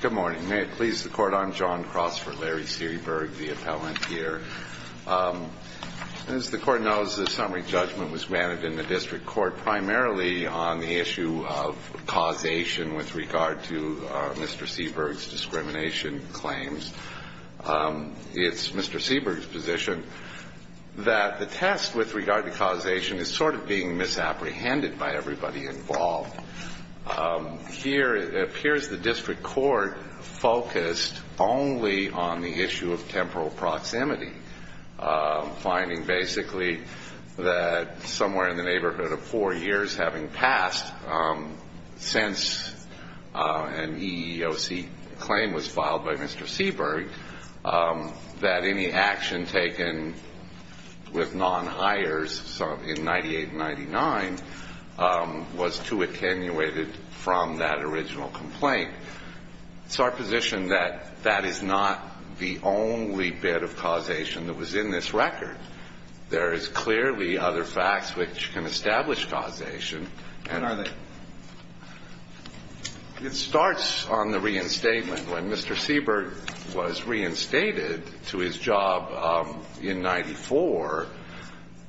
Good morning. May it please the court, I'm John Cross for Larry Seaburg, the appellant here. As the court knows, the summary judgment was granted in the district court primarily on the issue of causation with regard to Mr. Seaburg's discrimination claims. It's Mr. Seaburg's position that the test with regard to causation is sort of being misapprehended by everybody involved. Here it appears the district court focused only on the issue of temporal proximity, finding basically that somewhere in the neighborhood of four years having passed since an EEOC claim was filed by Mr. Seaburg, that any action taken with non-hires in 98 and 99 was too occasional. It's our position that that is not the only bit of causation that was in this record. There is clearly other facts which can establish causation. It starts on the reinstatement. When Mr. Seaburg was reinstated to his job in 94,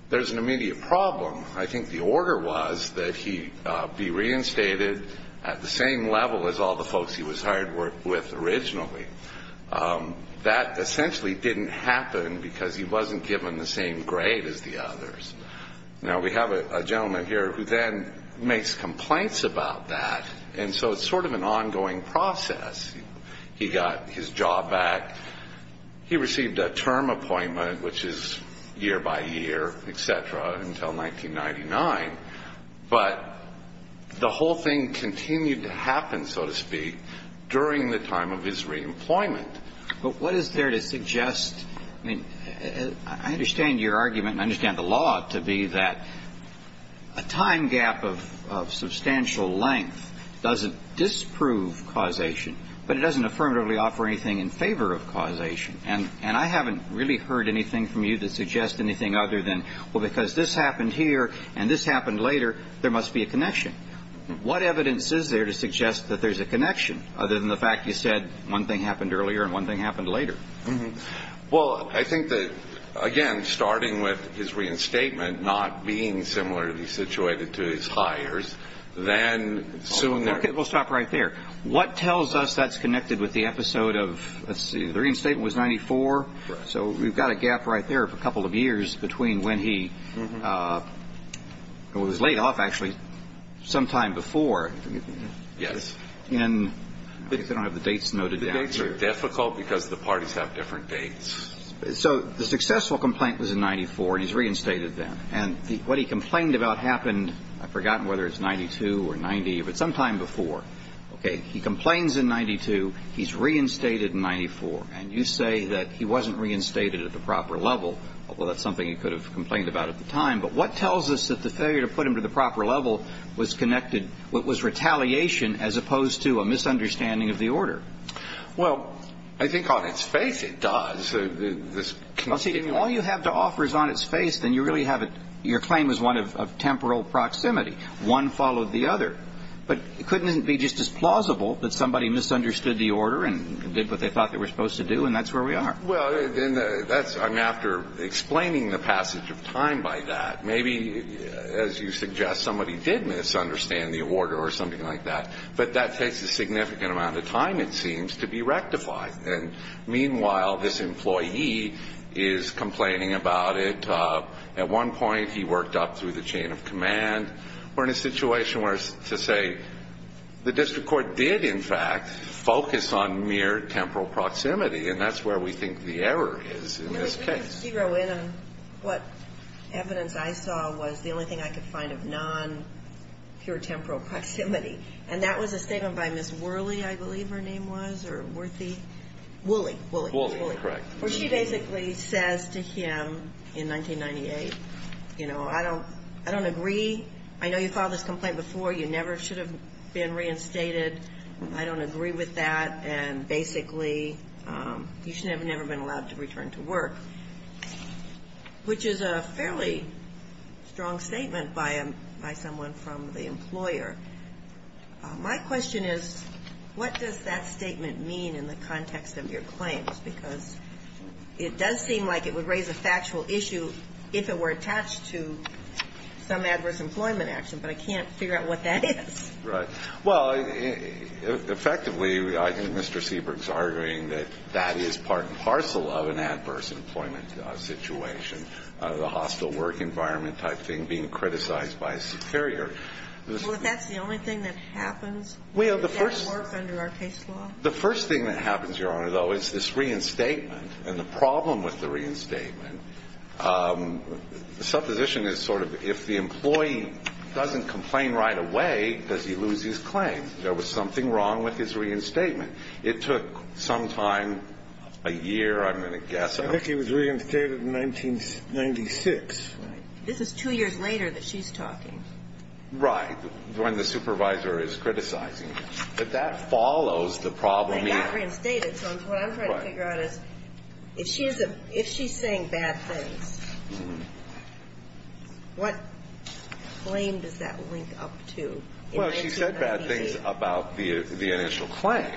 there's an immediate problem. I think the order was that he be reinstated at the same level as all the folks he was hired with originally. That essentially didn't happen because he wasn't given the same grade as the others. Now, we have a gentleman here who then makes complaints about that, and so it's sort of an ongoing process. He got his job back. He received a term appointment, which is year by year, et cetera, until 1999. But the whole thing continued to happen, so to speak, during the time of his reemployment. But what is there to suggest? I mean, I understand your argument and I understand the law to be that a time gap of substantial length doesn't disprove causation, but it doesn't affirmatively offer anything in favor of causation. And I haven't really heard anything from you that suggests anything other than, well, because this happened here and this happened later, there must be a connection. What evidence is there to suggest that there's a connection other than the fact you said one thing happened earlier and one thing happened later? Well, I think that, again, starting with his reinstatement not being similarly situated to his hires, then soon there… Okay, we'll stop right there. What tells us that's connected with the episode of, let's see, the reinstatement was 1994. So we've got a gap right there of a couple of years between when he was laid off, actually, sometime before. Yes. And I don't have the dates noted down here. They're difficult because the parties have different dates. So the successful complaint was in 94 and he's reinstated then. And what he complained about happened, I've forgotten whether it's 92 or 90, but sometime before. Okay, he complains in 92, he's reinstated in 94. And you say that he wasn't reinstated at the proper level, although that's something you could have complained about at the time. But what tells us that the failure to put him to the proper level was connected, was retaliation as opposed to a misunderstanding of the order? Well, I think on its face it does. Well, see, if all you have to offer is on its face, then you really have a – your claim is one of temporal proximity. One followed the other. But couldn't it be just as plausible that somebody misunderstood the order and did what they thought they were supposed to do, and that's where we are? Well, that's – I mean, after explaining the passage of time by that, maybe, as you suggest, somebody did misunderstand the order or something like that. But that takes a significant amount of time, it seems, to be rectified. And meanwhile, this employee is complaining about it. At one point, he worked up through the chain of command. We're in a situation where, to say, the district court did, in fact, focus on mere temporal proximity, and that's where we think the error is in this case. Can I zero in on what evidence I saw was the only thing I could find of non-pure temporal proximity? And that was a statement by Ms. Worley, I believe her name was, or Worthy? Wooley. Wooley. Wooley, correct. Well, she basically says to him in 1998, you know, I don't agree. I know you filed this complaint before. You never should have been reinstated. I don't agree with that. And basically, you should have never been allowed to return to work, which is a fairly strong statement by someone from the employer. My question is, what does that statement mean in the context of your claims? Because it does seem like it would raise a factual issue if it were attached to some adverse employment action, but I can't figure out what that is. Right. Well, effectively, I think Mr. Seabrook's arguing that that is part and parcel of an adverse employment situation, the hostile work environment type thing being criticized by a superior. Well, if that's the only thing that happens, would that work under our case law? The first thing that happens, Your Honor, though, is this reinstatement. And the problem with the reinstatement, the supposition is sort of if the employee doesn't complain right away, does he lose his claim? There was something wrong with his reinstatement. It took some time, a year, I'm going to guess. I think he was reinstated in 1996. Right. This is two years later that she's talking. Right, when the supervisor is criticizing him. But that follows the problem here. If she's not reinstated, so what I'm trying to figure out is if she's saying bad things, what claim does that link up to? Well, she said bad things about the initial claim.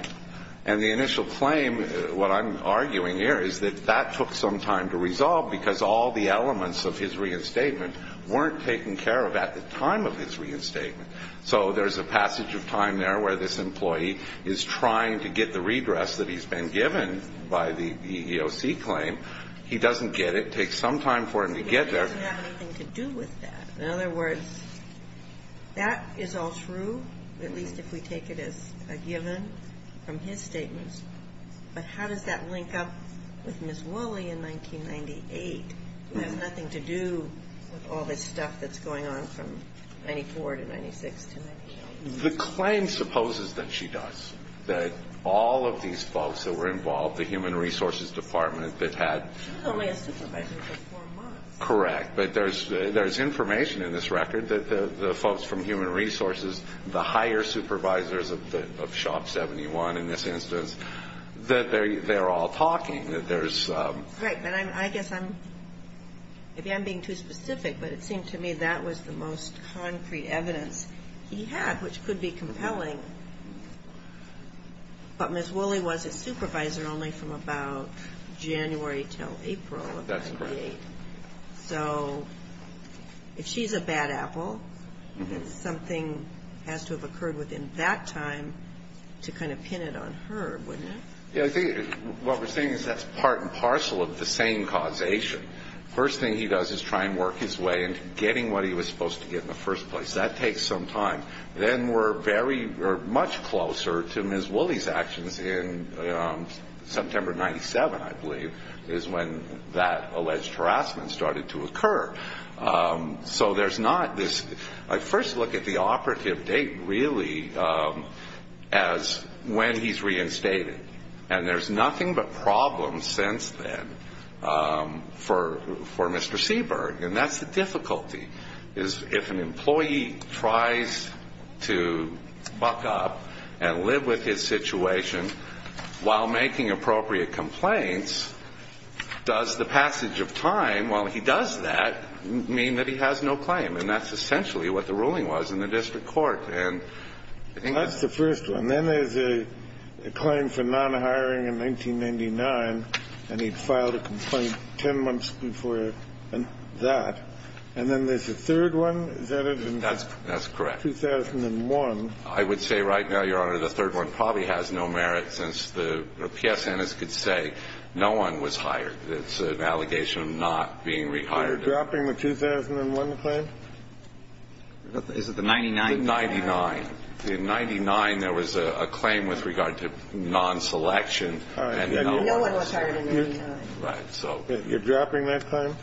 And the initial claim, what I'm arguing here is that that took some time to resolve because all the elements of his reinstatement weren't taken care of at the time of his reinstatement. So there's a passage of time there where this employee is trying to get the redress that he's been given by the EEOC claim. He doesn't get it. It takes some time for him to get there. But it doesn't have anything to do with that. In other words, that is all true, at least if we take it as a given from his statements. But how does that link up with Ms. Woolley in 1998? It has nothing to do with all this stuff that's going on from 94 to 96 to 98. The claim supposes that she does, that all of these folks that were involved, the human resources department that had ‑‑ She was only a supervisor for four months. Correct. But there's information in this record that the folks from human resources, the higher supervisors of Shop 71 in this instance, that they're all talking. That there's ‑‑ Right. But I guess I'm ‑‑ maybe I'm being too specific, but it seemed to me that was the most concrete evidence he had, which could be compelling. But Ms. Woolley was a supervisor only from about January until April of 1998. That's correct. So if she's a bad apple, then something has to have occurred within that time to kind of pin it on her, wouldn't it? Yeah, I think what we're saying is that's part and parcel of the same causation. First thing he does is try and work his way into getting what he was supposed to get in the first place. That takes some time. Then we're very ‑‑ we're much closer to Ms. Woolley's actions in September of 97, I believe, is when that alleged harassment started to occur. So there's not this ‑‑ I first look at the operative date really as when he's reinstated. And there's nothing but problems since then for Mr. Seberg. And that's the difficulty, is if an employee tries to buck up and live with his situation while making appropriate complaints, does the passage of time while he does that mean that he has no claim? And that's essentially what the ruling was in the district court. That's the first one. Then there's a claim for non‑hiring in 1999, and he'd filed a complaint ten months before that. And then there's a third one. Is that it? That's correct. 2001. I would say right now, Your Honor, the third one probably has no merit since the PSN could say no one was hired. It's an allegation of not being rehired. You're dropping the 2001 claim? Is it the 99? The 99. In 99 there was a claim with regard to non‑selection. No one was hired in 99. Right. You're dropping that claim?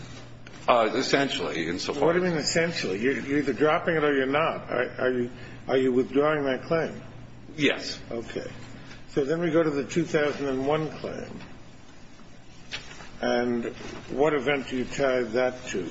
Essentially. What do you mean essentially? You're either dropping it or you're not. Are you withdrawing that claim? Yes. Okay. So then we go to the 2001 claim. And what event do you tie that to?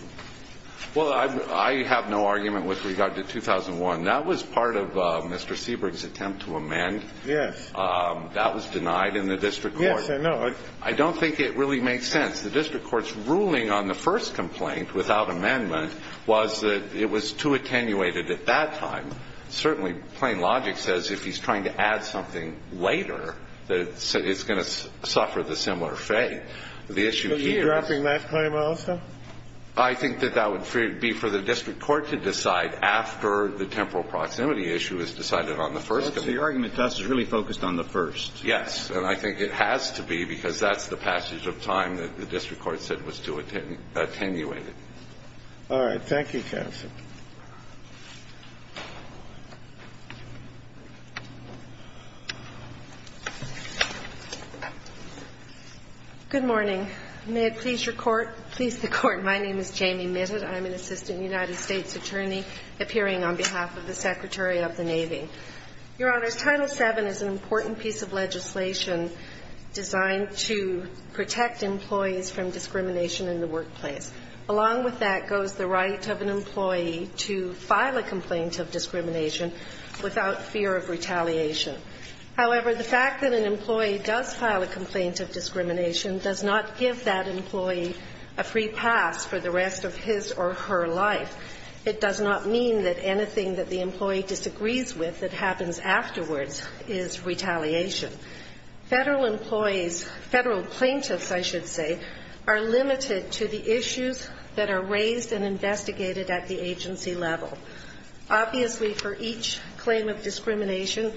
Well, I have no argument with regard to 2001. That was part of Mr. Sebring's attempt to amend. Yes. That was denied in the district court. Yes, I know. I don't think it really makes sense. The district court's ruling on the first complaint without amendment was that it was too attenuated at that time. Certainly, plain logic says if he's trying to add something later, it's going to suffer the similar fate. The issue here is ‑‑ So you're dropping that claim also? I think that that would be for the district court to decide after the temporal proximity issue is decided on the first. So your argument to us is really focused on the first? Yes. And I think it has to be because that's the passage of time that the district court said was too attenuated. All right. Thank you, counsel. Good morning. May it please the Court, my name is Jamie Mitted. I'm an assistant United States attorney appearing on behalf of the Secretary of the Navy. Your Honors, Title VII is an important piece of legislation designed to protect employees from discrimination in the workplace. Along with that goes the right of an employee to file a complaint of discrimination without fear of retaliation. However, the fact that an employee does file a complaint of discrimination does not give that employee a free pass for the rest of his or her life. It does not mean that anything that the employee disagrees with that happens afterwards is retaliation. Federal employees, federal plaintiffs, I should say, are limited to the issues that are raised and investigated at the agency level. Obviously, for each claim of discrimination,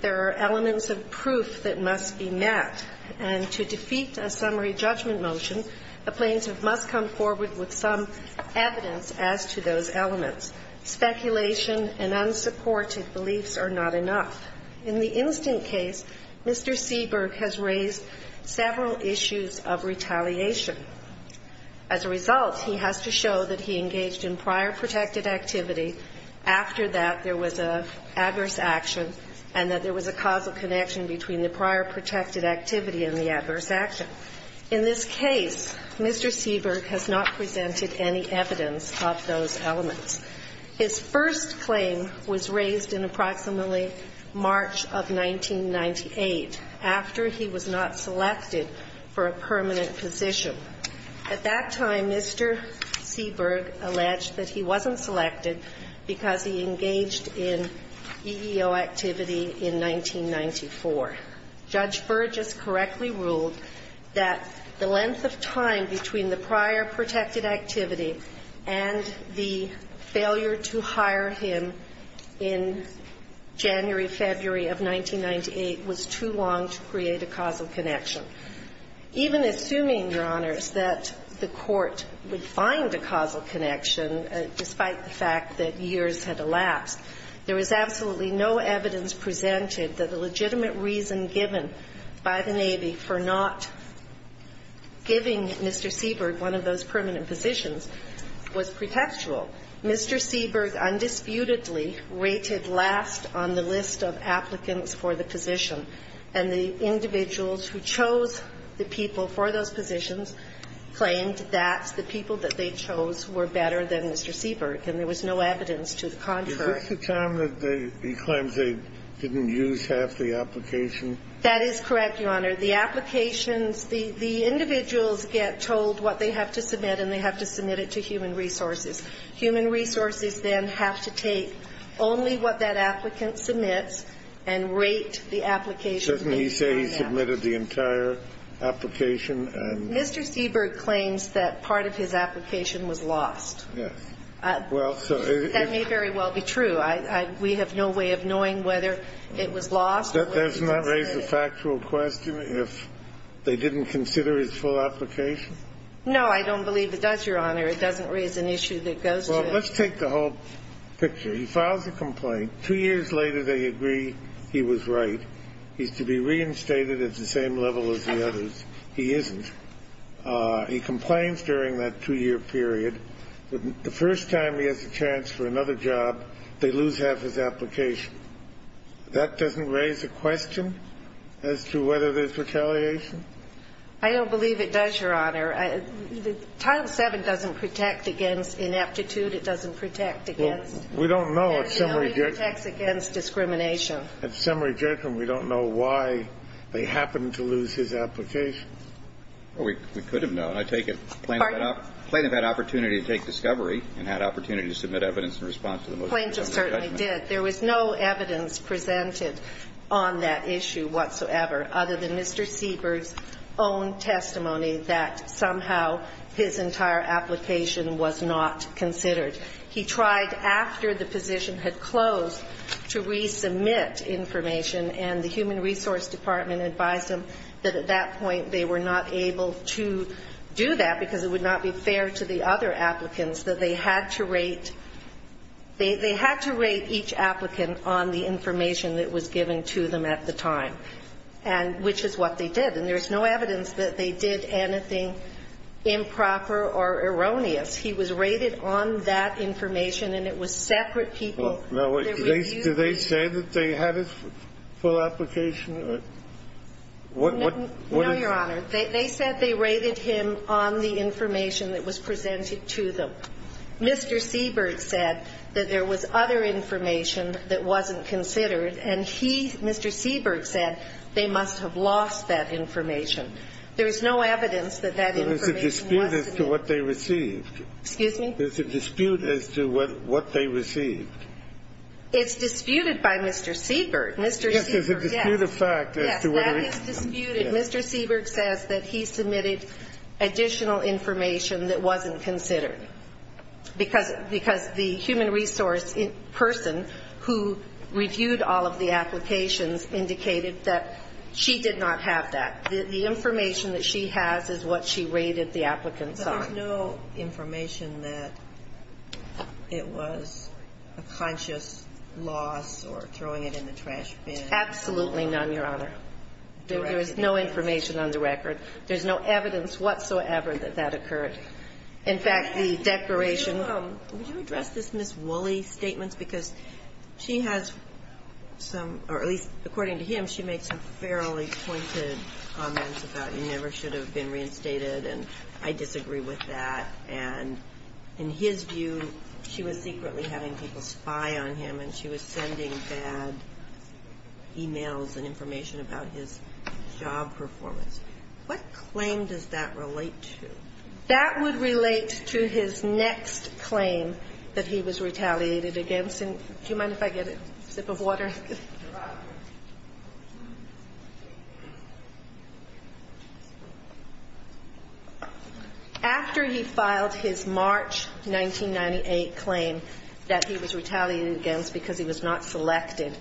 there are elements of proof that must be met. And to defeat a summary judgment motion, a plaintiff must come forward with some evidence as to those elements. Speculation and unsupported beliefs are not enough. In the instant case, Mr. Seaberg has raised several issues of retaliation. As a result, he has to show that he engaged in prior protected activity, after that there was an adverse action, and that there was a causal connection between the prior protected activity and the adverse action. In this case, Mr. Seaberg has not presented any evidence of those elements. His first claim was raised in approximately March of 1998, after he was not selected for a permanent position. At that time, Mr. Seaberg alleged that he wasn't selected because he engaged in EEO activity in 1994. Judge Burgess correctly ruled that the length of time between the prior protected activity and the failure to hire him in January-February of 1998 was too long to create a causal connection. Even assuming, Your Honors, that the Court would find a causal connection, despite the fact that years had elapsed, there was absolutely no evidence presented that a legitimate reason given by the Navy for not giving Mr. Seaberg one of those permanent positions was pretextual. Mr. Seaberg undisputedly rated last on the list of applicants for the position, and the individuals who chose the people for those positions claimed that the people that they chose were better than Mr. Seaberg, and there was no evidence to the contrary. Is this the time that he claims they didn't use half the application? That is correct, Your Honor. The applications, the individuals get told what they have to submit, and they have to submit it to human resources. Human resources then have to take only what that applicant submits and rate the application based on that. Doesn't he say he submitted the entire application? Mr. Seaberg claims that part of his application was lost. Yes. That may very well be true. We have no way of knowing whether it was lost or whether it was submitted. Doesn't that raise a factual question if they didn't consider his full application? No, I don't believe it does, Your Honor. It doesn't raise an issue that goes to that. Well, let's take the whole picture. He files a complaint. Two years later, they agree he was right. He's to be reinstated at the same level as the others. He isn't. He complains during that two-year period. The first time he has a chance for another job, they lose half his application. That doesn't raise a question as to whether there's retaliation? I don't believe it does, Your Honor. Title VII doesn't protect against ineptitude. It doesn't protect against. Well, we don't know if summary judgment. It only protects against discrimination. At summary judgment, we don't know why they happened to lose his application. Well, we could have known. I take it the plaintiff had opportunity to take discovery and had opportunity to submit evidence in response to the motion. The plaintiff certainly did. There was no evidence presented on that issue whatsoever other than Mr. Sieber's own testimony that somehow his entire application was not considered. He tried after the position had closed to resubmit information, and the Human Resource Department advised him that at that point they were not able to do that because it would not be fair to the other applicants, that they had to rate each applicant on the information that was given to them at the time, and which is what they did. And there's no evidence that they did anything improper or erroneous. He was rated on that information, and it was separate people. Do they say that they had his full application? No, Your Honor. They said they rated him on the information that was presented to them. Mr. Sieberg said that there was other information that wasn't considered, and he, Mr. Sieberg, said they must have lost that information. There is no evidence that that information was submitted. There's a dispute as to what they received. Excuse me? There's a dispute as to what they received. It's disputed by Mr. Sieberg. Mr. Sieberg, yes. Yes, that is disputed. Because the human resource person who reviewed all of the applications indicated that she did not have that. The information that she has is what she rated the applicants on. But there's no information that it was a conscious loss or throwing it in the trash bin. Absolutely none, Your Honor. There is no information on the record. There's no evidence whatsoever that that occurred. In fact, the declaration ---- Would you address this Ms. Woolley's statements? Because she has some, or at least according to him, she made some fairly pointed comments about you never should have been reinstated, and I disagree with that. And in his view, she was secretly having people spy on him, and she was sending bad e-mails and information about his job performance. What claim does that relate to? That would relate to his next claim that he was retaliated against. And do you mind if I get a sip of water? After he filed his March 1998 claim that he was retaliated against because he was not selected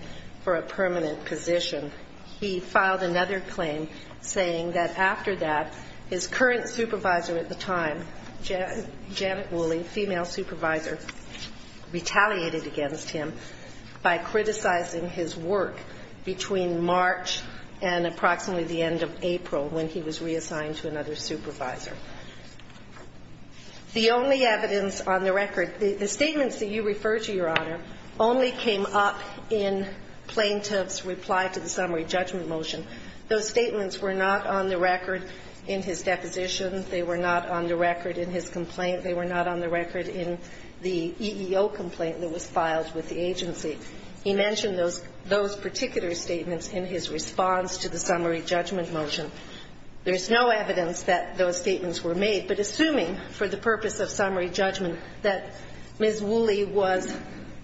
for a permanent position, he filed another claim saying that after that, his current supervisor at the time, Janet Woolley, female supervisor, retaliated against him by criticizing his work between March and approximately the end of April when he was reassigned to another supervisor. The only evidence on the record, the statements that you refer to, Your Honor, only came up in Plaintiff's reply to the summary judgment motion. Those statements were not on the record in his deposition. They were not on the record in his complaint. They were not on the record in the EEO complaint that was filed with the agency. He mentioned those particular statements in his response to the summary judgment motion. There's no evidence that those statements were made, but assuming for the purpose of summary judgment that Ms. Woolley was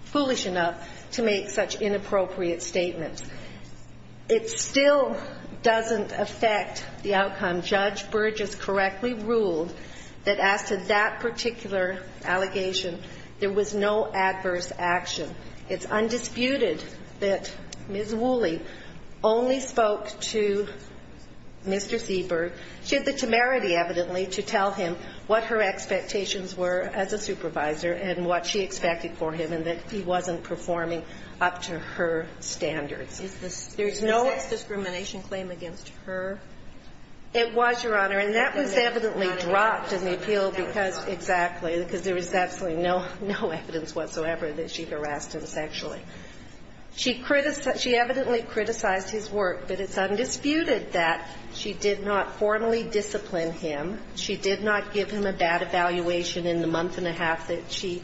foolish enough to make such inappropriate statements. It still doesn't affect the outcome. Judge Burgess correctly ruled that as to that particular allegation, there was no adverse action. It's undisputed that Ms. Woolley only spoke to Mr. Seabird. She had the temerity, evidently, to tell him what her expectations were as a supervisor and what she expected for him and that he wasn't performing up to her standards. There's no sex discrimination claim against her? It was, Your Honor, and that was evidently dropped in the appeal because, exactly, because there was absolutely no evidence whatsoever that she harassed him sexually. She evidently criticized his work, but it's undisputed that she did not force him or formally discipline him. She did not give him a bad evaluation in the month and a half that she,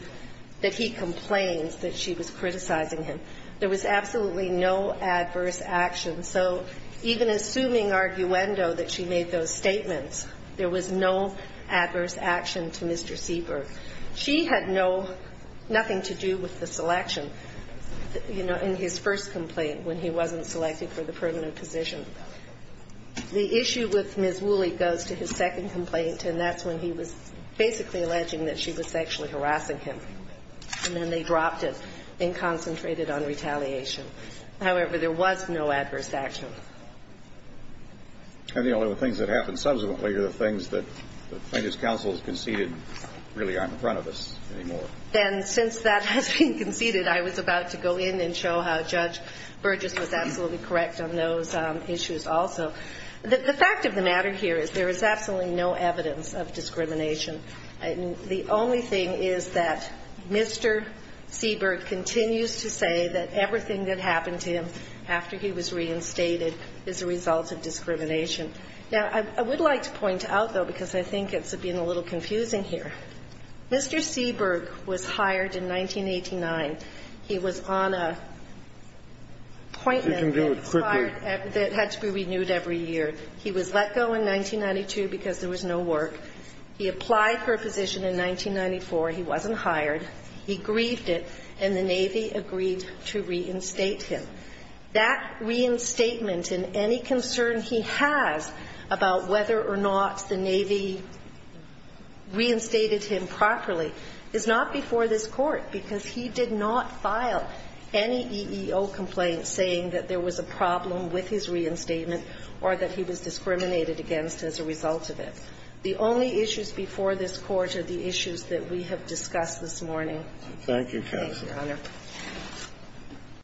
that he complains that she was criticizing him. There was absolutely no adverse action. So even assuming arguendo that she made those statements, there was no adverse action to Mr. Seabird. She had no, nothing to do with the selection, you know, in his first complaint when he wasn't selected for the permanent position. The issue with Ms. Woolley goes to his second complaint, and that's when he was basically alleging that she was sexually harassing him, and then they dropped it and concentrated on retaliation. However, there was no adverse action. And the only things that happened subsequently are the things that the plaintiff's counsel has conceded really aren't in front of us anymore. And since that has been conceded, I was about to go in and show how Judge Burgess was absolutely correct on those issues also. The fact of the matter here is there is absolutely no evidence of discrimination. The only thing is that Mr. Seabird continues to say that everything that happened to him after he was reinstated is a result of discrimination. Now, I would like to point out, though, because I think it's being a little confusing here, Mr. Seabird was hired in 1989. He was on an appointment that required that had to be renewed every year. He was let go in 1992 because there was no work. He applied for a position in 1994. He wasn't hired. He grieved it, and the Navy agreed to reinstate him. That reinstatement and any concern he has about whether or not the Navy reinstated him properly is not before this Court, because he did not file any EEO complaint saying that there was a problem with his reinstatement or that he was discriminated against as a result of it. The only issues before this Court are the issues that we have discussed this morning. Thank you, counsel. Thank you, Your Honor.